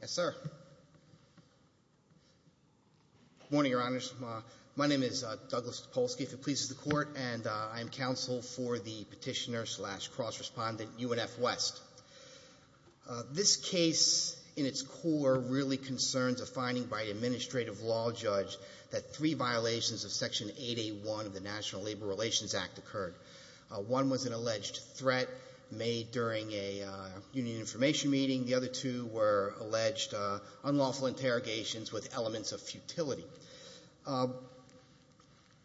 Yes, sir. Good morning, Your Honors. My name is Douglas Topolsky, if it pleases the Court, and I am counsel for the petitioner-slash-cross-respondent UNF West. This case, in its core, really concerns a finding by an administrative law judge that three violations of Section 881 of the National Labor Relations Act occurred. One was an alleged threat made during a union information meeting. The other two were alleged unlawful interrogations with elements of futility.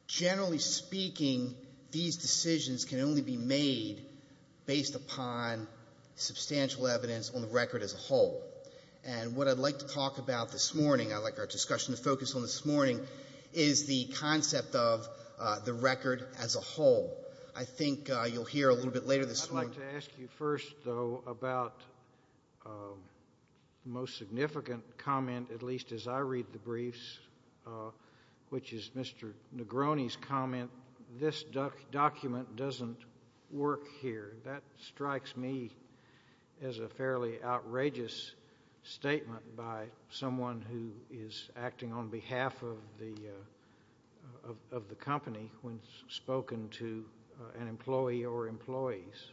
Generally speaking, these decisions can only be made based upon substantial evidence on the record as a whole. And what I'd like to talk about this morning, I'd like our discussion to focus on this morning, is the concept of the record as a whole. I think you'll hear a little bit later this morning. I'd like to ask you first, though, about the most significant comment, at least as I read the briefs, which is Mr. Negroni's comment, this document doesn't work here. That strikes me as a fairly outrageous statement by someone who is acting on behalf of the company when spoken to an employee or employees.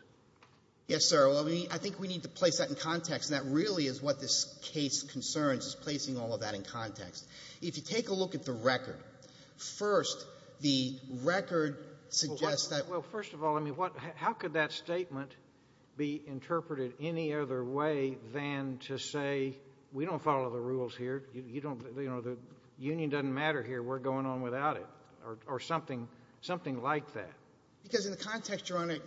Yes, sir. I think we need to place that in context, and that really is what this case concerns, is placing all of that in context. If you take a look at the record, first, the record suggests that Well, first of all, how could that statement be interpreted any other way than to say, we don't follow the rules here, you don't, you know, the union doesn't matter here, we're going on without it, or something like that? Because in the context, Your Honor,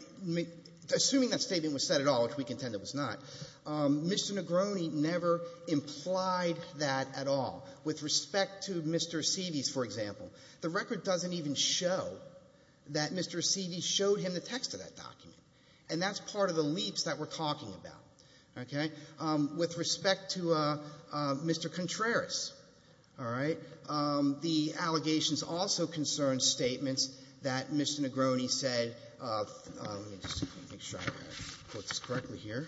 assuming that statement was said at all, which we contend it was not, Mr. Negroni never implied that at all. With respect to Mr. Seavey's, for example, the record doesn't even show that Mr. Seavey showed him the text of that Mr. Contreras. All right? The allegations also concern statements that Mr. Negroni said, let me just make sure I quote this correctly here.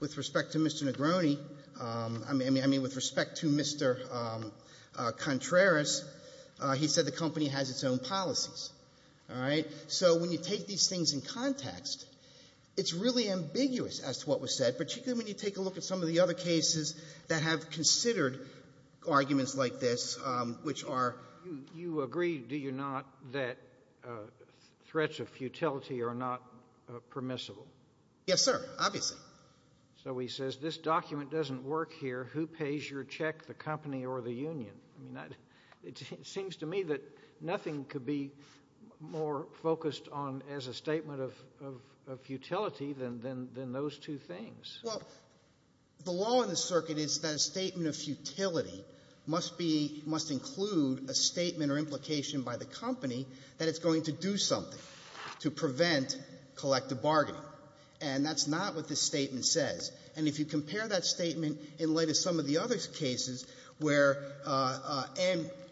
With respect to Mr. Negroni, I mean, with respect to Mr. Contreras, he said the company has its own policies. All right? So when you take these things in context, it's really ambiguous as to what was said, particularly when you take a look at some of the other cases that have considered arguments like this, which are You agree, do you not, that threats of futility are not permissible? Yes, sir. Obviously. So he says this document doesn't work here. Who pays your check, the company or the union? I mean, it seems to me that nothing could be more focused on as a statement of futility than those two things. Well, the law in the circuit is that a statement of futility must include a statement or implication by the company that it's going to do something to prevent collective bargaining. And that's not what this statement says. And if you compare that statement in light of some of the other cases where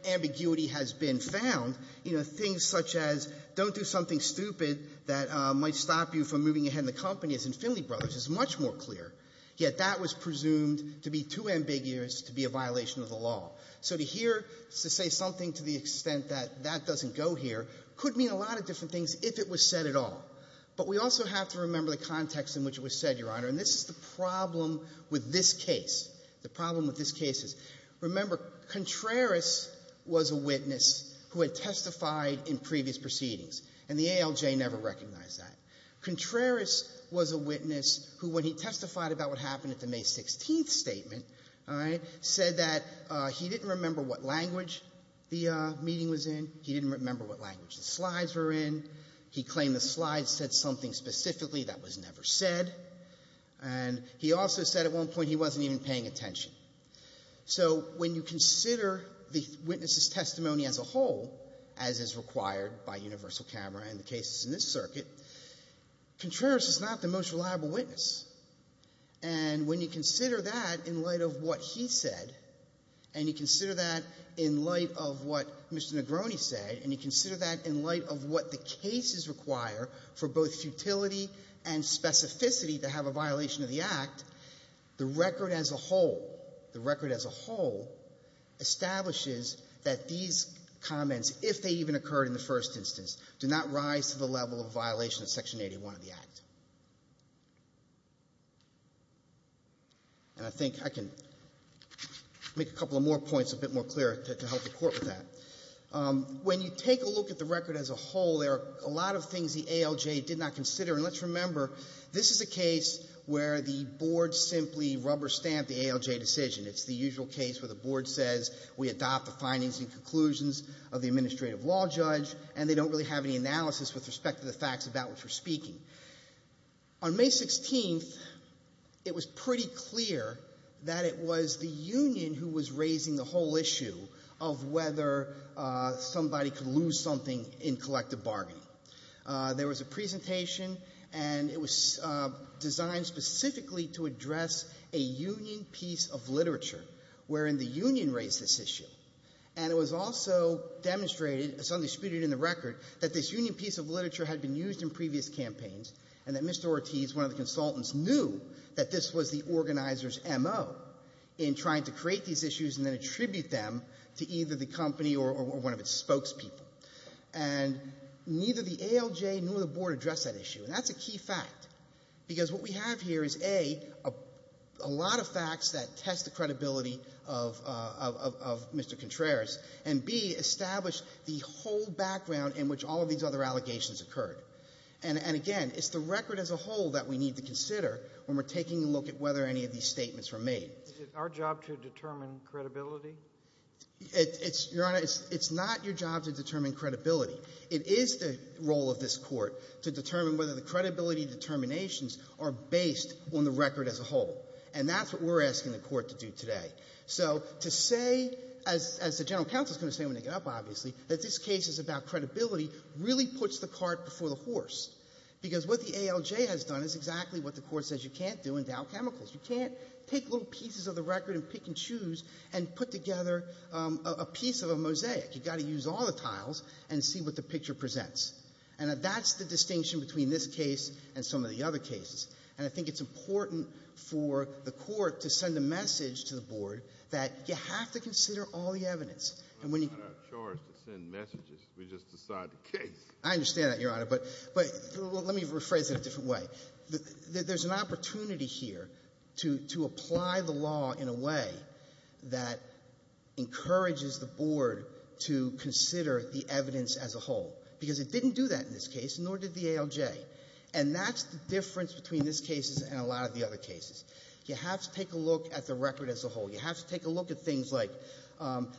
ambiguity has been found, you know, things such as don't do something stupid that might stop you from moving ahead in the company as in Finley Brothers is much more clear. Yet that was presumed to be too ambiguous to be a violation of the law. So to hear to say something to the extent that that doesn't go here could mean a lot of different things if it was said at all. But we also have to remember the context in which it was said, Your Honor. And this is the problem with this case. The problem with this case is, remember, Contreras was a witness who had testified in previous proceedings. And the ALJ never recognized that. Contreras was a witness who, when he testified about what happened at the May 16th statement, all right, said that he didn't remember what language the meeting was in. He didn't remember what language the slides were in. He claimed the slides said something specifically that was never said. And he also said at one point he wasn't even paying attention. So when you consider the witness's testimony as a whole, as is required by universal camera and the cases in this circuit, Contreras is not the most reliable witness. And when you consider that in light of what he said, and you consider that in light of what Mr. Negroni said, and you consider that in light of what the cases require for both utility and specificity to have a violation of the Act, the record as a whole, the record as a whole, establishes that these comments, if they even occurred in the first instance, do not rise to the level of a violation of Section 81 of the Act. And I think I can make a couple of more points a bit more clear to help the Court with that. When you take a look at the record as a whole, there are a lot of things the ALJ did not consider. And let's remember, this is a case where the Board simply rubber-stamped the ALJ decision. It's the usual case where the Board says, we adopt the findings and conclusions of the Administrative Law Judge, and they don't really have any analysis with respect to the facts about which we're speaking. On May 16th, it was pretty clear that it was the union who was raising the whole issue of whether somebody could lose something in collective bargaining. There was a presentation and it was designed specifically to address a union piece of literature wherein the union raised this issue. And it was also demonstrated, as undisputed in the record, that this union piece of literature had been used in previous campaigns, and that Mr. Ortiz, one of the consultants, knew that this was the organizer's M.O. in trying to create these issues and attribute them to either the company or one of its spokespeople. And neither the ALJ nor the Board addressed that issue. And that's a key fact, because what we have here is, A, a lot of facts that test the credibility of Mr. Contreras, and B, establish the whole background in which all of these other allegations occurred. And again, it's the record as a whole that we need to consider when we're taking a look at whether any of these statements were made. Is it our job to determine credibility? It's, Your Honor, it's not your job to determine credibility. It is the role of this Court to determine whether the credibility determinations are based on the record as a whole. And that's what we're asking the Court to do today. So to say, as the general counsel is going to say when they get up, obviously, that this case is about credibility really puts the cart before the horse. Because what the ALJ has done is exactly what the Court says you can't do in Dow Chemicals. You can't take little pieces of the record and pick and choose and put together a piece of a mosaic. You've got to use all the tiles and see what the picture presents. And that's the distinction between this case and some of the other cases. And I think it's important for the Court to send a message to the Board that you have to consider all the evidence. It's not our charge to send messages. We just decide the case. I understand that, Your Honor. But let me rephrase it a different way. There's an opportunity here to apply the law in a way that encourages the Board to consider the evidence as a whole. Because it didn't do that in this case, nor did the ALJ. And that's the difference between this case and a lot of the other cases. You have to take a look at the record as a whole. You have to take a look at things like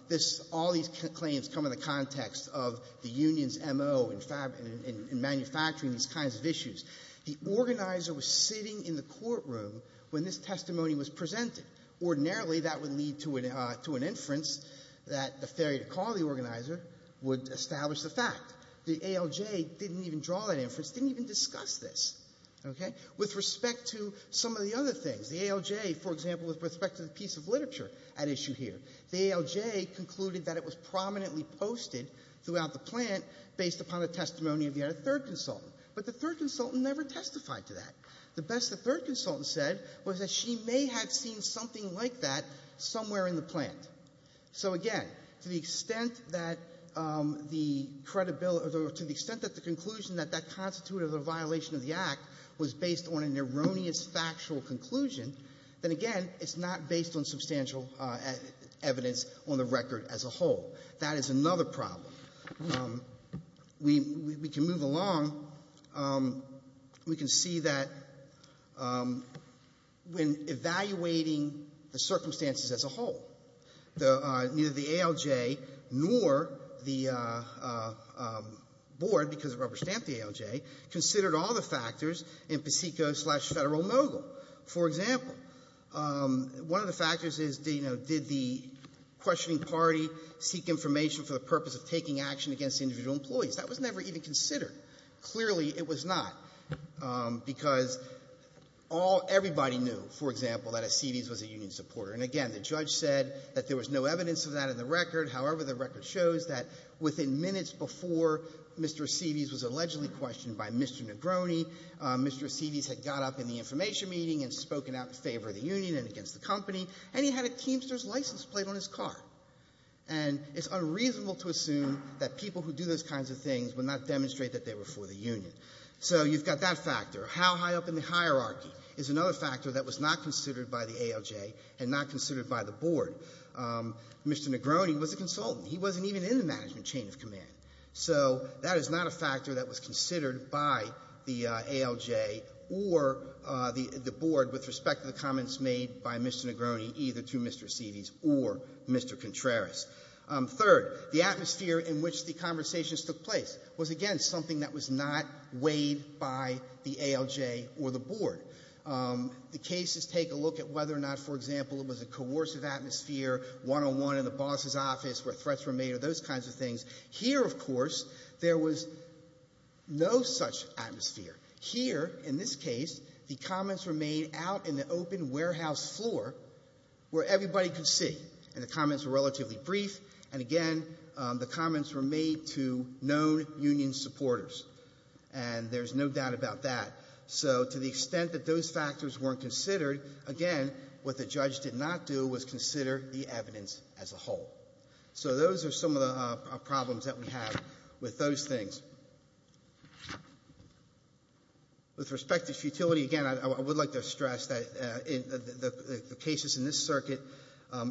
this, all these claims come in the context of the union's MO in manufacturing, these kinds of issues. The organizer was sitting in the courtroom when this testimony was presented. Ordinarily, that would lead to an inference that the failure to call the organizer would establish the fact. The ALJ didn't even draw that inference, didn't even discuss this, okay? With respect to some of the other things, the ALJ, for example, with respect to the piece of literature at issue here, the ALJ concluded that it was prominently posted throughout the plant based upon the testimony of yet a third consultant. But the third consultant never testified to that. The best the third consultant said was that she may have seen something like that somewhere in the plant. So again, to the extent that the credibility or to the extent that the conclusion that that constituted a violation of the Act was based on an erroneous factual conclusion, then again, it's not based on substantial evidence on the record as a whole. That is another problem. We can move along. We can see that when evaluating the circumstances as a whole, neither the ALJ nor the board, because it rubber-stamped the ALJ, considered all the factors in Paseco-slash-Federal-Mogul. For example, one of the factors is, you know, did the questioning party seek to determine whether or not there was any evidence that Mr. Acides was a union supporter. And again, the judge said that there was no evidence of that in the record. However, the record shows that within minutes before Mr. Acides was allegedly questioned by Mr. Negroni, Mr. Acides had got up in the information meeting and spoken out in favor of the union and against the company, and he had a Keemster's license plate on his car. And it's unreasonable to assume that people who do those kinds of things would not demonstrate that they were for the union. So you've got that factor. How high up in the hierarchy is another factor that was not considered by the ALJ and not considered by the board. Mr. Negroni was a consultant. He wasn't even in the management chain of command. So that is not a factor that was considered by the ALJ or the board with respect to the comments made by Mr. Negroni either to Mr. Acides or Mr. Contreras. Third, the atmosphere in which the conversations took place was, again, something that was not weighed by the ALJ or the board. The cases take a look at whether or not, for example, it was a coercive atmosphere, one-on-one in the boss's office where threats were made or those kinds of things. Here, of course, there was no such atmosphere. Here, in this case, the comments were made out in the open warehouse floor where everybody could see. And the comments were relatively brief. And again, the comments were made to known union supporters. And there's no doubt about that. So to the extent that those factors weren't considered, again, what the judge did not do was consider the evidence as a whole. So those are some of the problems that we have with those things. With respect to futility, again, I would like to stress that the cases in this circuit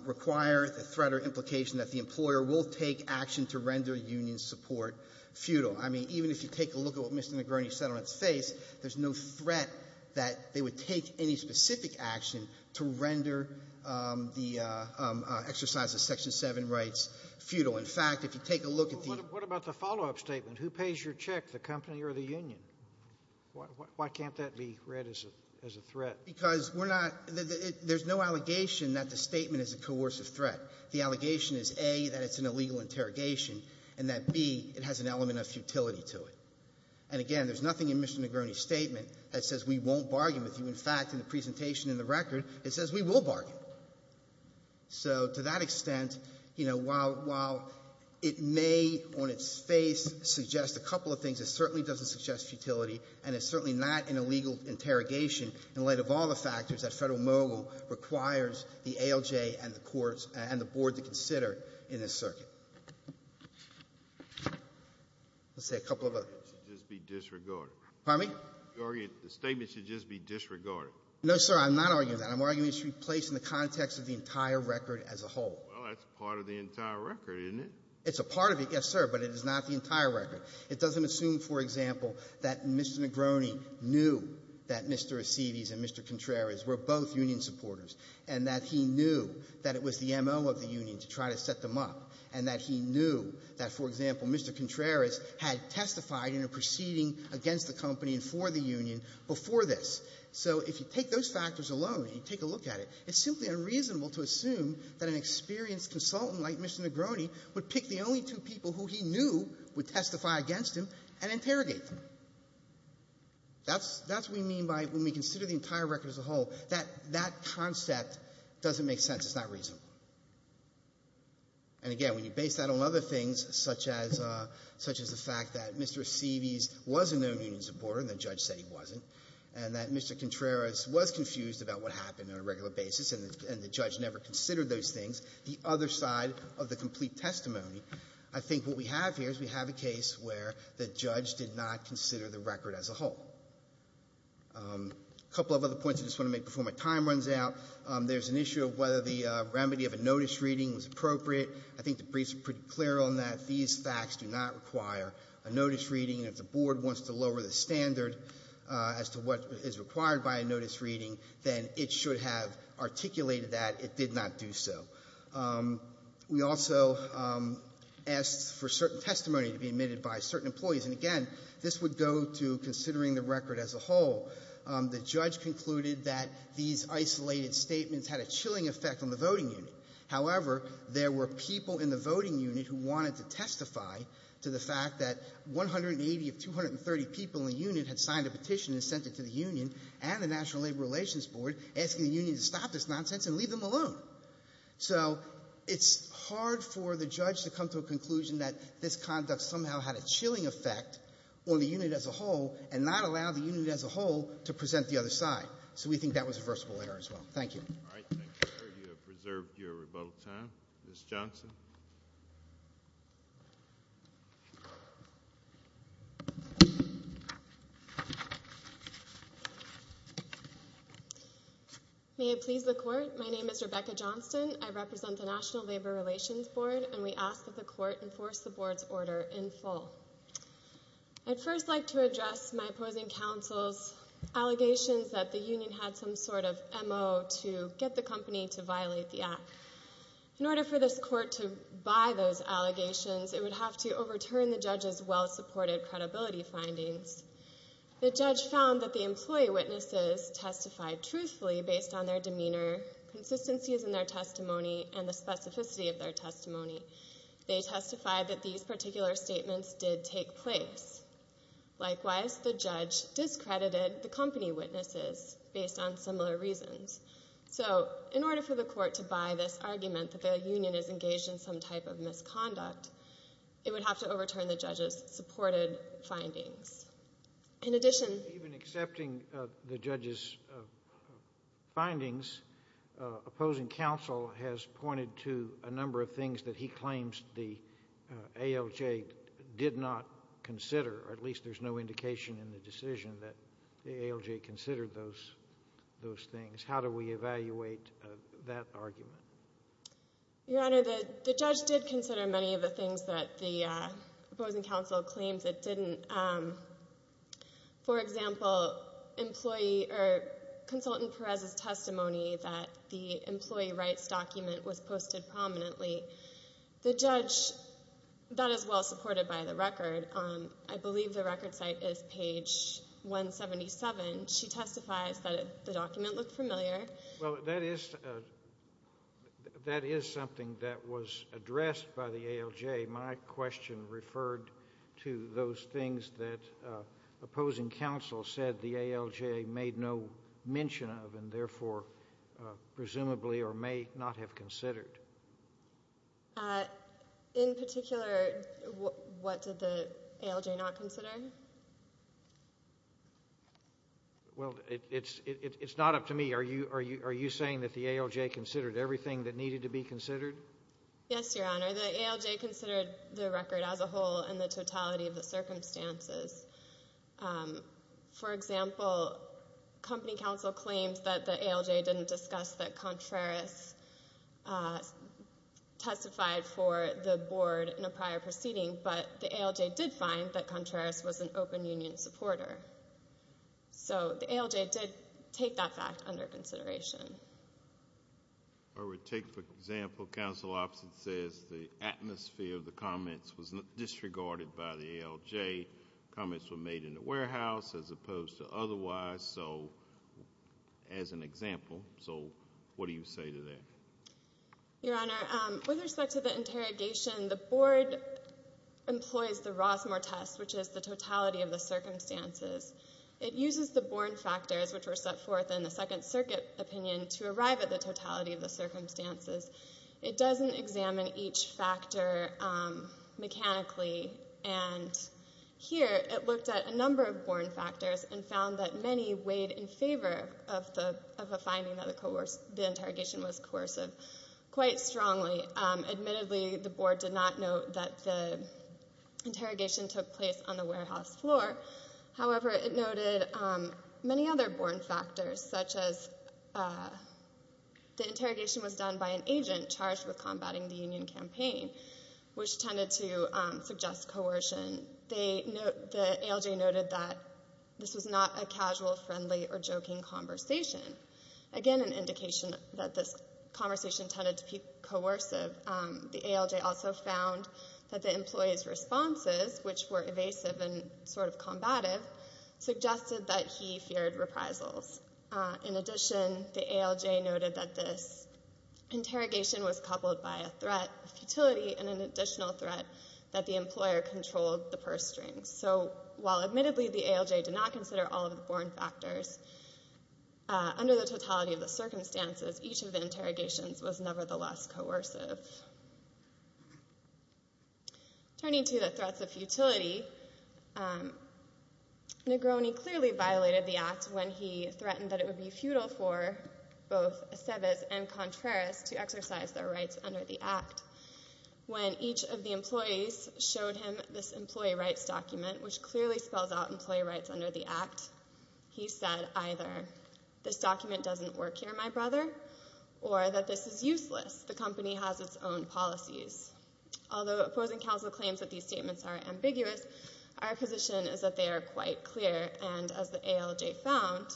require the threat or implication that the employer will take action to render union support futile. I mean, even if you take a look at what Mr. Negroni said on its face, there's no threat that they would take any specific action to render the exercise of Section 7 rights futile. In fact, if you take a look at the — But what about the follow-up statement? Who pays your check, the company or the union? Why can't that be read as a threat? Because we're not — there's no allegation that the statement is a coercive threat. The allegation is, A, that it's an illegal interrogation, and that, B, it has an element of futility to it. And again, there's nothing in Mr. Negroni's statement that says we won't bargain with you. In fact, in the presentation in the record, it says we will bargain. So to that extent, you know, while — while it may on its face suggest a couple of things, it certainly doesn't suggest futility, and it's certainly not an illegal interrogation in light of all the factors that Federal Mogul requires the ALJ and the board to consider in this circuit. Let's say a couple of other — The argument should just be disregarded. Pardon me? The argument — the statement should just be disregarded. No, sir, I'm not arguing that. I'm arguing it should be placed in the context of the entire record as a whole. Well, that's part of the entire record, isn't it? It's a part of it, yes, sir, but it is not the entire record. It doesn't assume, for example, that Mr. Negroni knew that Mr. Assides and Mr. Contreras were both union to try to set them up, and that he knew that, for example, Mr. Contreras had testified in a proceeding against the company and for the union before this. So if you take those factors alone and you take a look at it, it's simply unreasonable to assume that an experienced consultant like Mr. Negroni would pick the only two people who he knew would testify against him and interrogate them. That's — that's what we mean by when we consider the entire record as a whole, that that concept doesn't make sense. It's not reasonable. And again, when you base that on other things, such as — such as the fact that Mr. Aceves was a known union supporter and the judge said he wasn't, and that Mr. Contreras was confused about what happened on a regular basis and the judge never considered those things, the other side of the complete testimony, I think what we have here is we have a case where the judge did not consider the record as a whole. A couple of other points I just want to make before my time runs out. There's an issue of whether the remedy of a notice reading was appropriate. I think the briefs are pretty clear on that. These facts do not require a notice reading. And if the Board wants to lower the standard as to what is required by a notice reading, then it should have articulated that it did not do so. We also asked for certain testimony to be admitted by certain employees. And again, this would go to considering the record as a whole. The judge concluded that these isolated statements had a chilling effect on the voting unit. However, there were people in the voting unit who wanted to testify to the fact that 180 of 230 people in the unit had signed a petition and sent it to the union and the National Labor Relations Board, asking the union to stop this nonsense and leave them alone. So it's hard for the judge to come to a conclusion that this conduct somehow had a chilling effect on the unit as a whole and not allow the unit as a whole to present the other side. So we think that was a versatile error as well. Thank you. All right. Thank you, sir. You have preserved your rebuttal time. Ms. Johnson. May it please the Court, my name is Rebecca Johnson. I represent the National Labor Relations Board, and we ask that the Court enforce the Board's order in full. I'd first like to address my opposing counsel's allegations that the union had some sort of M.O. to get the company to violate the Act. In order for this Court to buy those allegations, it would have to overturn the judge's well-supported credibility findings. The judge found that the employee witnesses testified truthfully based on their demeanor, consistencies in their testimony, and the specificity of their testimony. They testified that these particular statements did take place. Likewise, the judge discredited the company witnesses based on similar reasons. So in order for the Court to buy this argument that the union is engaged in some type of misconduct, it would have to overturn the judge's supported findings. In addition— Even accepting the judge's findings, opposing counsel has pointed to a number of things that he claims the ALJ did not consider, or at least there's no indication in the decision that the ALJ considered those things. How do we evaluate that argument? Your Honor, the judge did consider many of the things that the opposing counsel claims it didn't. For example, consultant Perez's testimony that the employee rights document was The judge—that is well-supported by the record. I believe the record site is page 177. She testifies that the document looked familiar. Well, that is something that was addressed by the ALJ. My question referred to those things that opposing counsel said the ALJ made no therefore presumably or may not have considered. In particular, what did the ALJ not consider? Well, it's not up to me. Are you saying that the ALJ considered everything that needed to be considered? Yes, Your Honor. The ALJ considered the record as a whole and the totality of the circumstances. For example, company counsel claims that the ALJ didn't discuss that Contreras testified for the board in a prior proceeding, but the ALJ did find that Contreras was an open union supporter. So the ALJ did take that fact under consideration. I would take, for example, the counsel opposite says the atmosphere of the comments was disregarded by the ALJ. Comments were made in the warehouse as opposed to otherwise, as an example. So what do you say to that? Your Honor, with respect to the interrogation, the board employs the Rosmer test, which is the totality of the circumstances. It uses the Born factors, which were set forth in the Second Circuit opinion, to arrive at the totality of the circumstances. It doesn't examine each factor mechanically, and here it looked at a number of Born factors and found that many weighed in favor of the finding that the interrogation was coercive quite strongly. Admittedly, the board did not note that the interrogation took place on the warehouse floor. However, it noted many other Born factors, such as the interrogation was done by an agent charged with combating the union campaign, which tended to suggest coercion. The ALJ noted that this was not a casual, friendly, or joking conversation. Again, an indication that this conversation tended to be coercive. The ALJ also found that the employee's responses, which were evasive and sort of combative, suggested that he feared reprisals. In addition, the ALJ noted that this interrogation was coupled by a threat of futility and an additional threat that the employer controlled the purse strings. So while admittedly the ALJ did not consider all of the Born factors, under the totality of the circumstances, each of the interrogations was nevertheless coercive. Turning to the threats of futility, Negroni clearly violated the Act when he threatened that it would be futile for both Eceves and Contreras to exercise their rights under the Act. When each of the employees showed him this employee rights document, which clearly spells out employee rights under the Act, he said either, this document doesn't work here, my brother, or that this is useless, the company has its own policies. Although opposing counsel claims that these statements are ambiguous, our position is that they are quite clear, and as the ALJ found,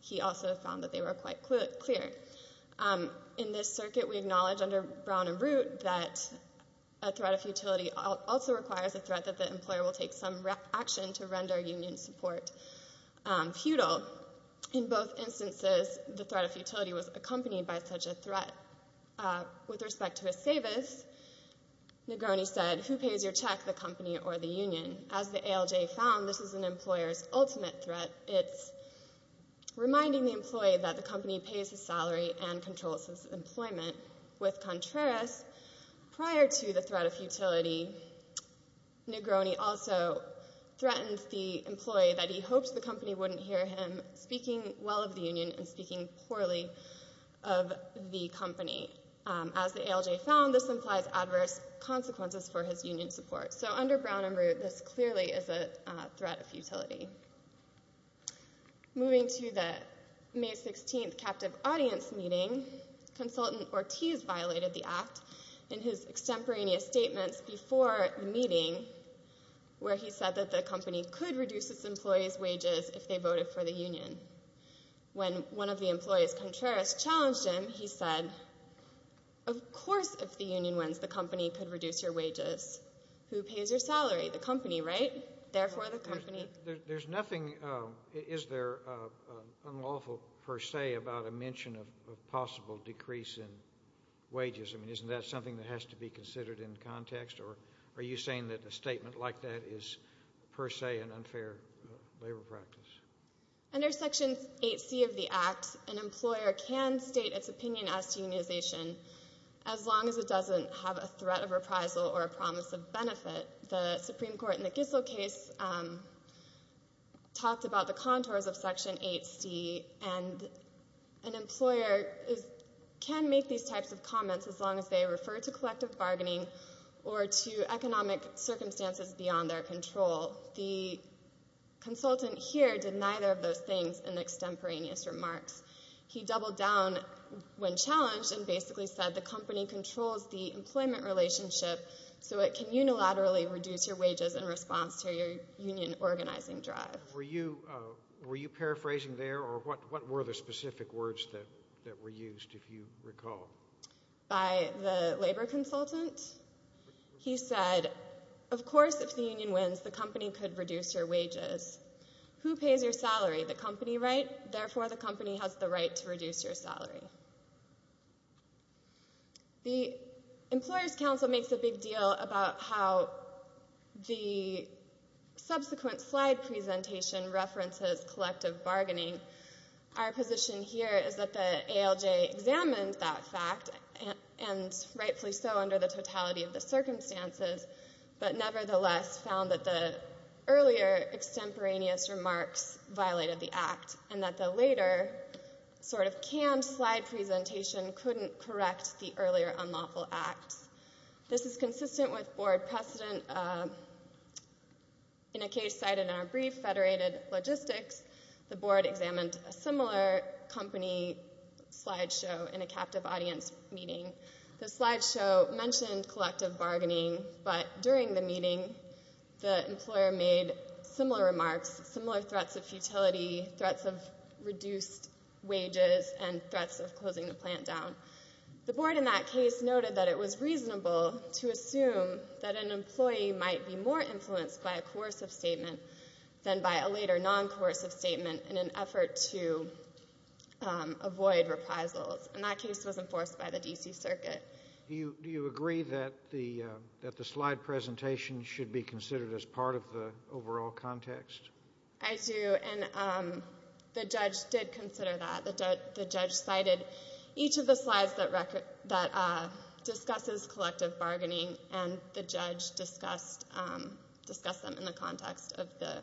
he also found that they were quite clear. In this circuit, we acknowledge under Brown and Root that a threat of futility also requires a threat that the employer will take some action to render union support futile. In both instances, the threat of futility was accompanied by such a threat. With respect to Eceves, Negroni said, who pays your check, the company or the union? As the ALJ found, this is an employer's ultimate threat. It's reminding the employee that the company pays his salary and controls his employment. With Contreras, prior to the threat of futility, Negroni also threatens the employee that he hopes the company wouldn't hear him speaking well of the union and speaking poorly of the company. As the ALJ found, this implies adverse consequences for his union support. So under Brown and Root, this clearly is a threat of futility. Moving to the May 16th captive audience meeting, consultant Ortiz violated the Act in his extemporaneous statements before the meeting where he said that the company could reduce its employees' wages if they voted for the union. When one of the employees, Contreras, challenged him, he said, of course if the union wins, the company could reduce your wages. Who pays your salary? The company, right? Therefore, the company. There's nothing, is there, unlawful per se about a mention of a possible decrease in wages? I mean, isn't that something that has to be considered in context? Or are you saying that a statement like that is per se an unfair labor practice? Under Section 8C of the Act, an employer can state its opinion as to unionization as long as it doesn't have a threat of reprisal or a promise of benefit. The Supreme Court in the Gissel case talked about the contours of Section 8C, and an employer can make these types of comments as long as they refer to collective bargaining or to economic circumstances beyond their control. The consultant here did neither of those things in extemporaneous remarks. He doubled down when challenged and basically said the company controls the employment relationship so it can unilaterally reduce your wages in response to your union organizing drive. Were you paraphrasing there, or what were the specific words that were used, if you recall? By the labor consultant. He said, of course, if the union wins, the company could reduce your wages. Who pays your salary? The company, right? Therefore, the company has the right to reduce your salary. The Employers' Council makes a big deal about how the subsequent slide presentation references collective bargaining. Our position here is that the ALJ examined that fact, and rightfully so under the totality of the circumstances, but nevertheless found that the earlier extemporaneous remarks violated the Act and that the later sort of canned slide presentation couldn't correct the earlier unlawful Act. This is consistent with board precedent. In a case cited in our brief, Federated Logistics, the board examined a similar company slide show in a captive audience meeting. The slide show mentioned collective bargaining, but during the meeting the employer made similar remarks, similar threats of futility, threats of reduced wages, and threats of closing the plant down. The board in that case noted that it was reasonable to assume that an employee might be more influenced by a coercive statement than by a later non-coercive statement in an effort to avoid reprisals, and that case was enforced by the D.C. Circuit. Do you agree that the slide presentation should be considered as part of the overall context? I do, and the judge did consider that. The judge cited each of the slides that discusses collective bargaining, and the judge discussed them in the context of the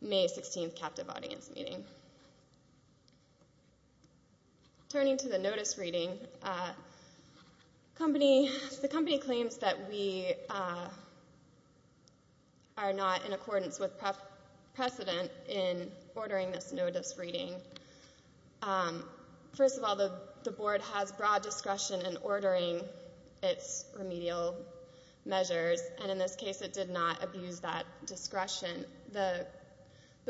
May 16th captive audience meeting. Turning to the notice reading, the company claims that we are not in accordance with precedent in ordering this notice reading. First of all, the board has broad discretion in ordering its remedial measures, and in this case it did not abuse that discretion. The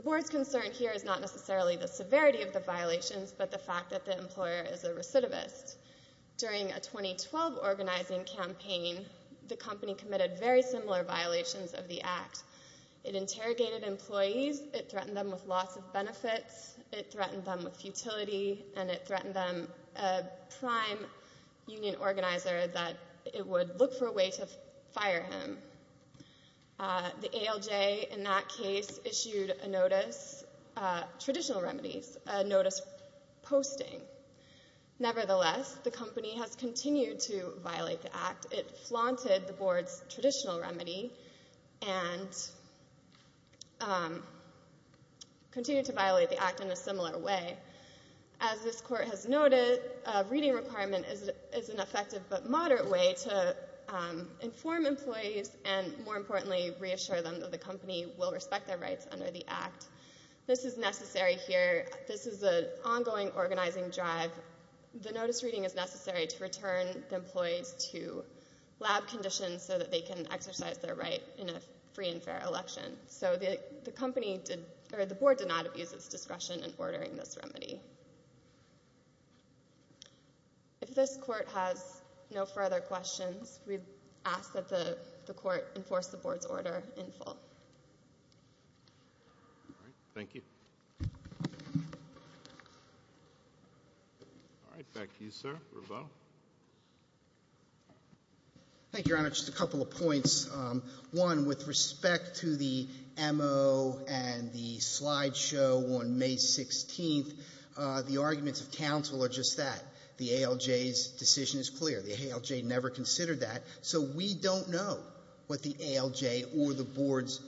board's concern here is not necessarily the severity of the violations, but the fact that the employer is a recidivist. During a 2012 organizing campaign, the company committed very similar violations of the act. It interrogated employees, it threatened them with loss of benefits, it threatened them with futility, and it threatened them, a prime union organizer, that it would look for a way to fire him. The ALJ in that case issued a notice, traditional remedies, a notice posting. Nevertheless, the company has continued to violate the act. It flaunted the board's traditional remedy and continued to violate the act in a similar way. As this court has noted, a reading requirement is an effective but moderate way to inform employees and, more importantly, reassure them that the company will respect their rights under the act. This is necessary here. This is an ongoing organizing drive. The notice reading is necessary to return the employees to lab conditions so that they can exercise their right in a free and fair election. So the board did not abuse its discretion in ordering this remedy. If this court has no further questions, we ask that the court enforce the board's order in full. All right. Thank you. All right. Back to you, sir. Revelle. Thank you, Your Honor. Just a couple of points. One, with respect to the M.O. and the slide show on May 16th, the arguments of counsel are just that. The ALJ's decision is clear. The ALJ never considered that. So we don't know what the ALJ or the boards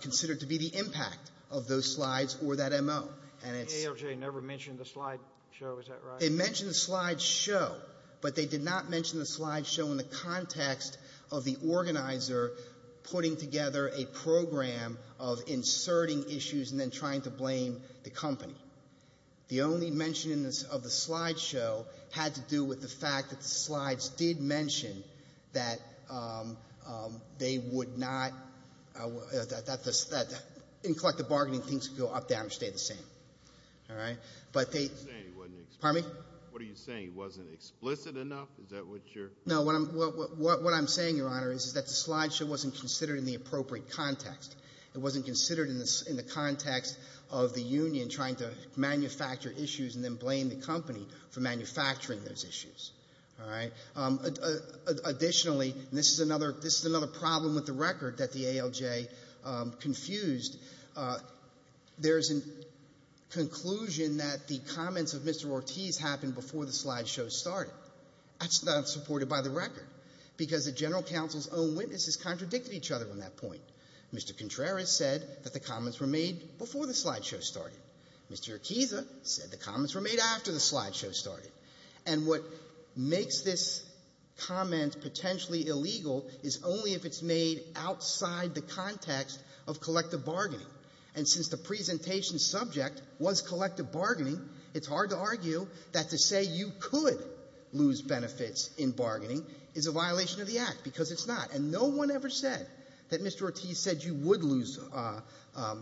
considered to be the impact of those slides or that M.O. The ALJ never mentioned the slide show. Is that right? They mentioned the slide show. But they did not mention the slide show in the context of the organizer putting together a program of inserting issues and then trying to blame the company. The only mention of the slide show had to do with the fact that the slides did mention that they would not – that in collective bargaining, things would go up, down, or stay the same. All right. But they – What are you saying? Pardon me? What are you saying? It wasn't explicit enough? Is that what you're – No. What I'm saying, Your Honor, is that the slide show wasn't considered in the appropriate context. It wasn't considered in the context of the union trying to manufacture issues and then blame the company for manufacturing those issues. All right. Additionally, this is another problem with the record that the ALJ confused. There is a conclusion that the comments of Mr. Ortiz happened before the slide show started. That's not supported by the record because the general counsel's own witnesses contradicted each other on that point. Mr. Contreras said that the comments were made before the slide show started. Mr. Urquiza said the comments were made after the slide show started. And what makes this comment potentially illegal is only if it's made outside the context of collective bargaining. And since the presentation subject was collective bargaining, it's hard to argue that to say you could lose benefits in bargaining is a violation of the Act because it's not. And no one ever said that Mr. Ortiz said you would lose – that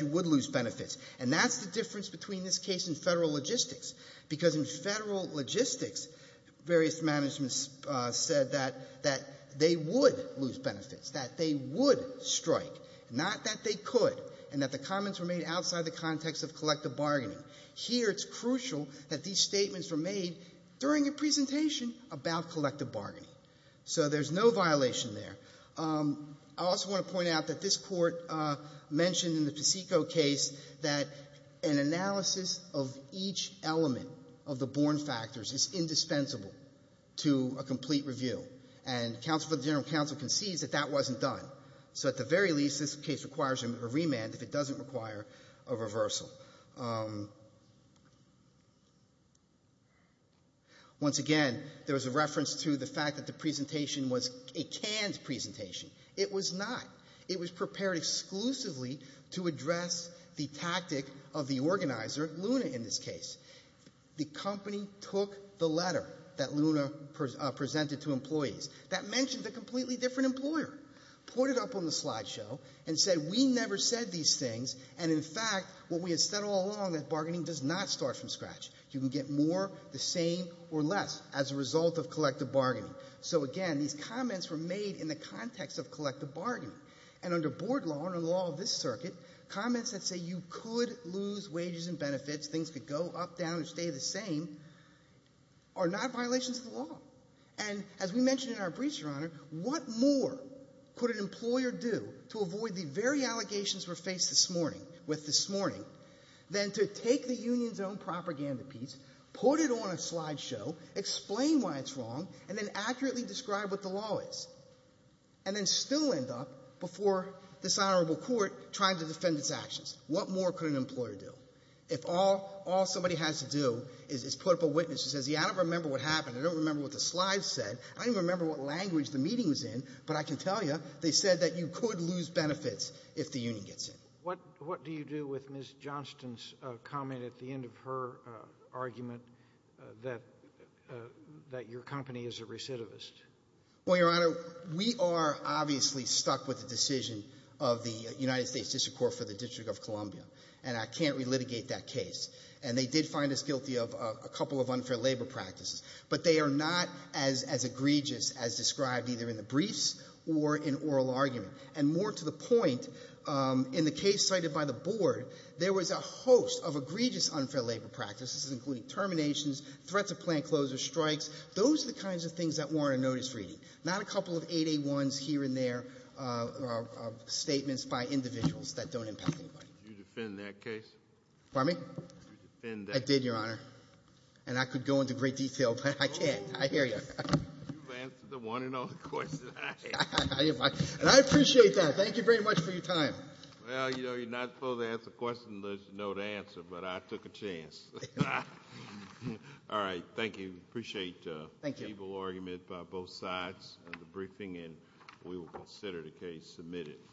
you would lose benefits. And that's the difference between this case and Federal logistics. Because in Federal logistics, various managements said that they would lose benefits, that they would strike, not that they could, and that the comments were made outside the context of collective bargaining. Here it's crucial that these statements were made during a presentation about collective bargaining. So there's no violation there. I also want to point out that this Court mentioned in the Paseco case that an analysis of each element of the born factors is indispensable to a complete review. And counsel for the general counsel concedes that that wasn't done. So at the very least, this case requires a remand if it doesn't require a reversal. Once again, there was a reference to the fact that the presentation was a canned presentation. It was not. It was prepared exclusively to address the tactic of the organizer, Luna, in this case. The company took the letter that Luna presented to employees that mentioned a completely different employer, put it up on the slideshow, and said, we never said these things. And in fact, what we had said all along, that bargaining does not start from scratch. You can get more, the same, or less as a result of collective bargaining. So again, these comments were made in the context of collective bargaining. And under board law, under the law of this circuit, comments that say you could lose wages and benefits, things could go up, down, or stay the same, are not violations of the law. And as we mentioned in our briefs, Your Honor, what more could an employer do to avoid the very allegations we're faced this morning, with this morning, than to take the union's own propaganda piece, put it on a slideshow, explain why it's wrong, and then accurately describe what the law is, and then still end up before this honorable court trying to defend its actions. What more could an employer do? If all somebody has to do is put up a witness who says, yeah, I don't remember what happened. I don't remember what the slides said. I don't even remember what language the meeting was in. But I can tell you, they said that you could lose benefits if the union gets in. What do you do with Ms. Johnston's comment at the end of her argument that your company is a recidivist? Well, Your Honor, we are obviously stuck with the decision of the United States District Court for the District of Columbia. And I can't relitigate that case. And they did find us guilty of a couple of unfair labor practices. But they are not as egregious as described either in the briefs or in oral argument. And more to the point, in the case cited by the board, there was a host of egregious unfair labor practices, including terminations, threats of plant closures, strikes. Those are the kinds of things that warrant a notice reading, not a couple of 8A1s here and there of statements by individuals that don't impact anybody. Did you defend that case? Pardon me? Did you defend that case? I did, Your Honor. And I could go into great detail, but I can't. I hear you. You've answered the one and only question I asked. And I appreciate that. Thank you very much for your time. Well, you know, you're not supposed to ask a question unless you know the answer. But I took a chance. All right. Thank you. Appreciate the able argument by both sides of the briefing. And we will consider the case submitted.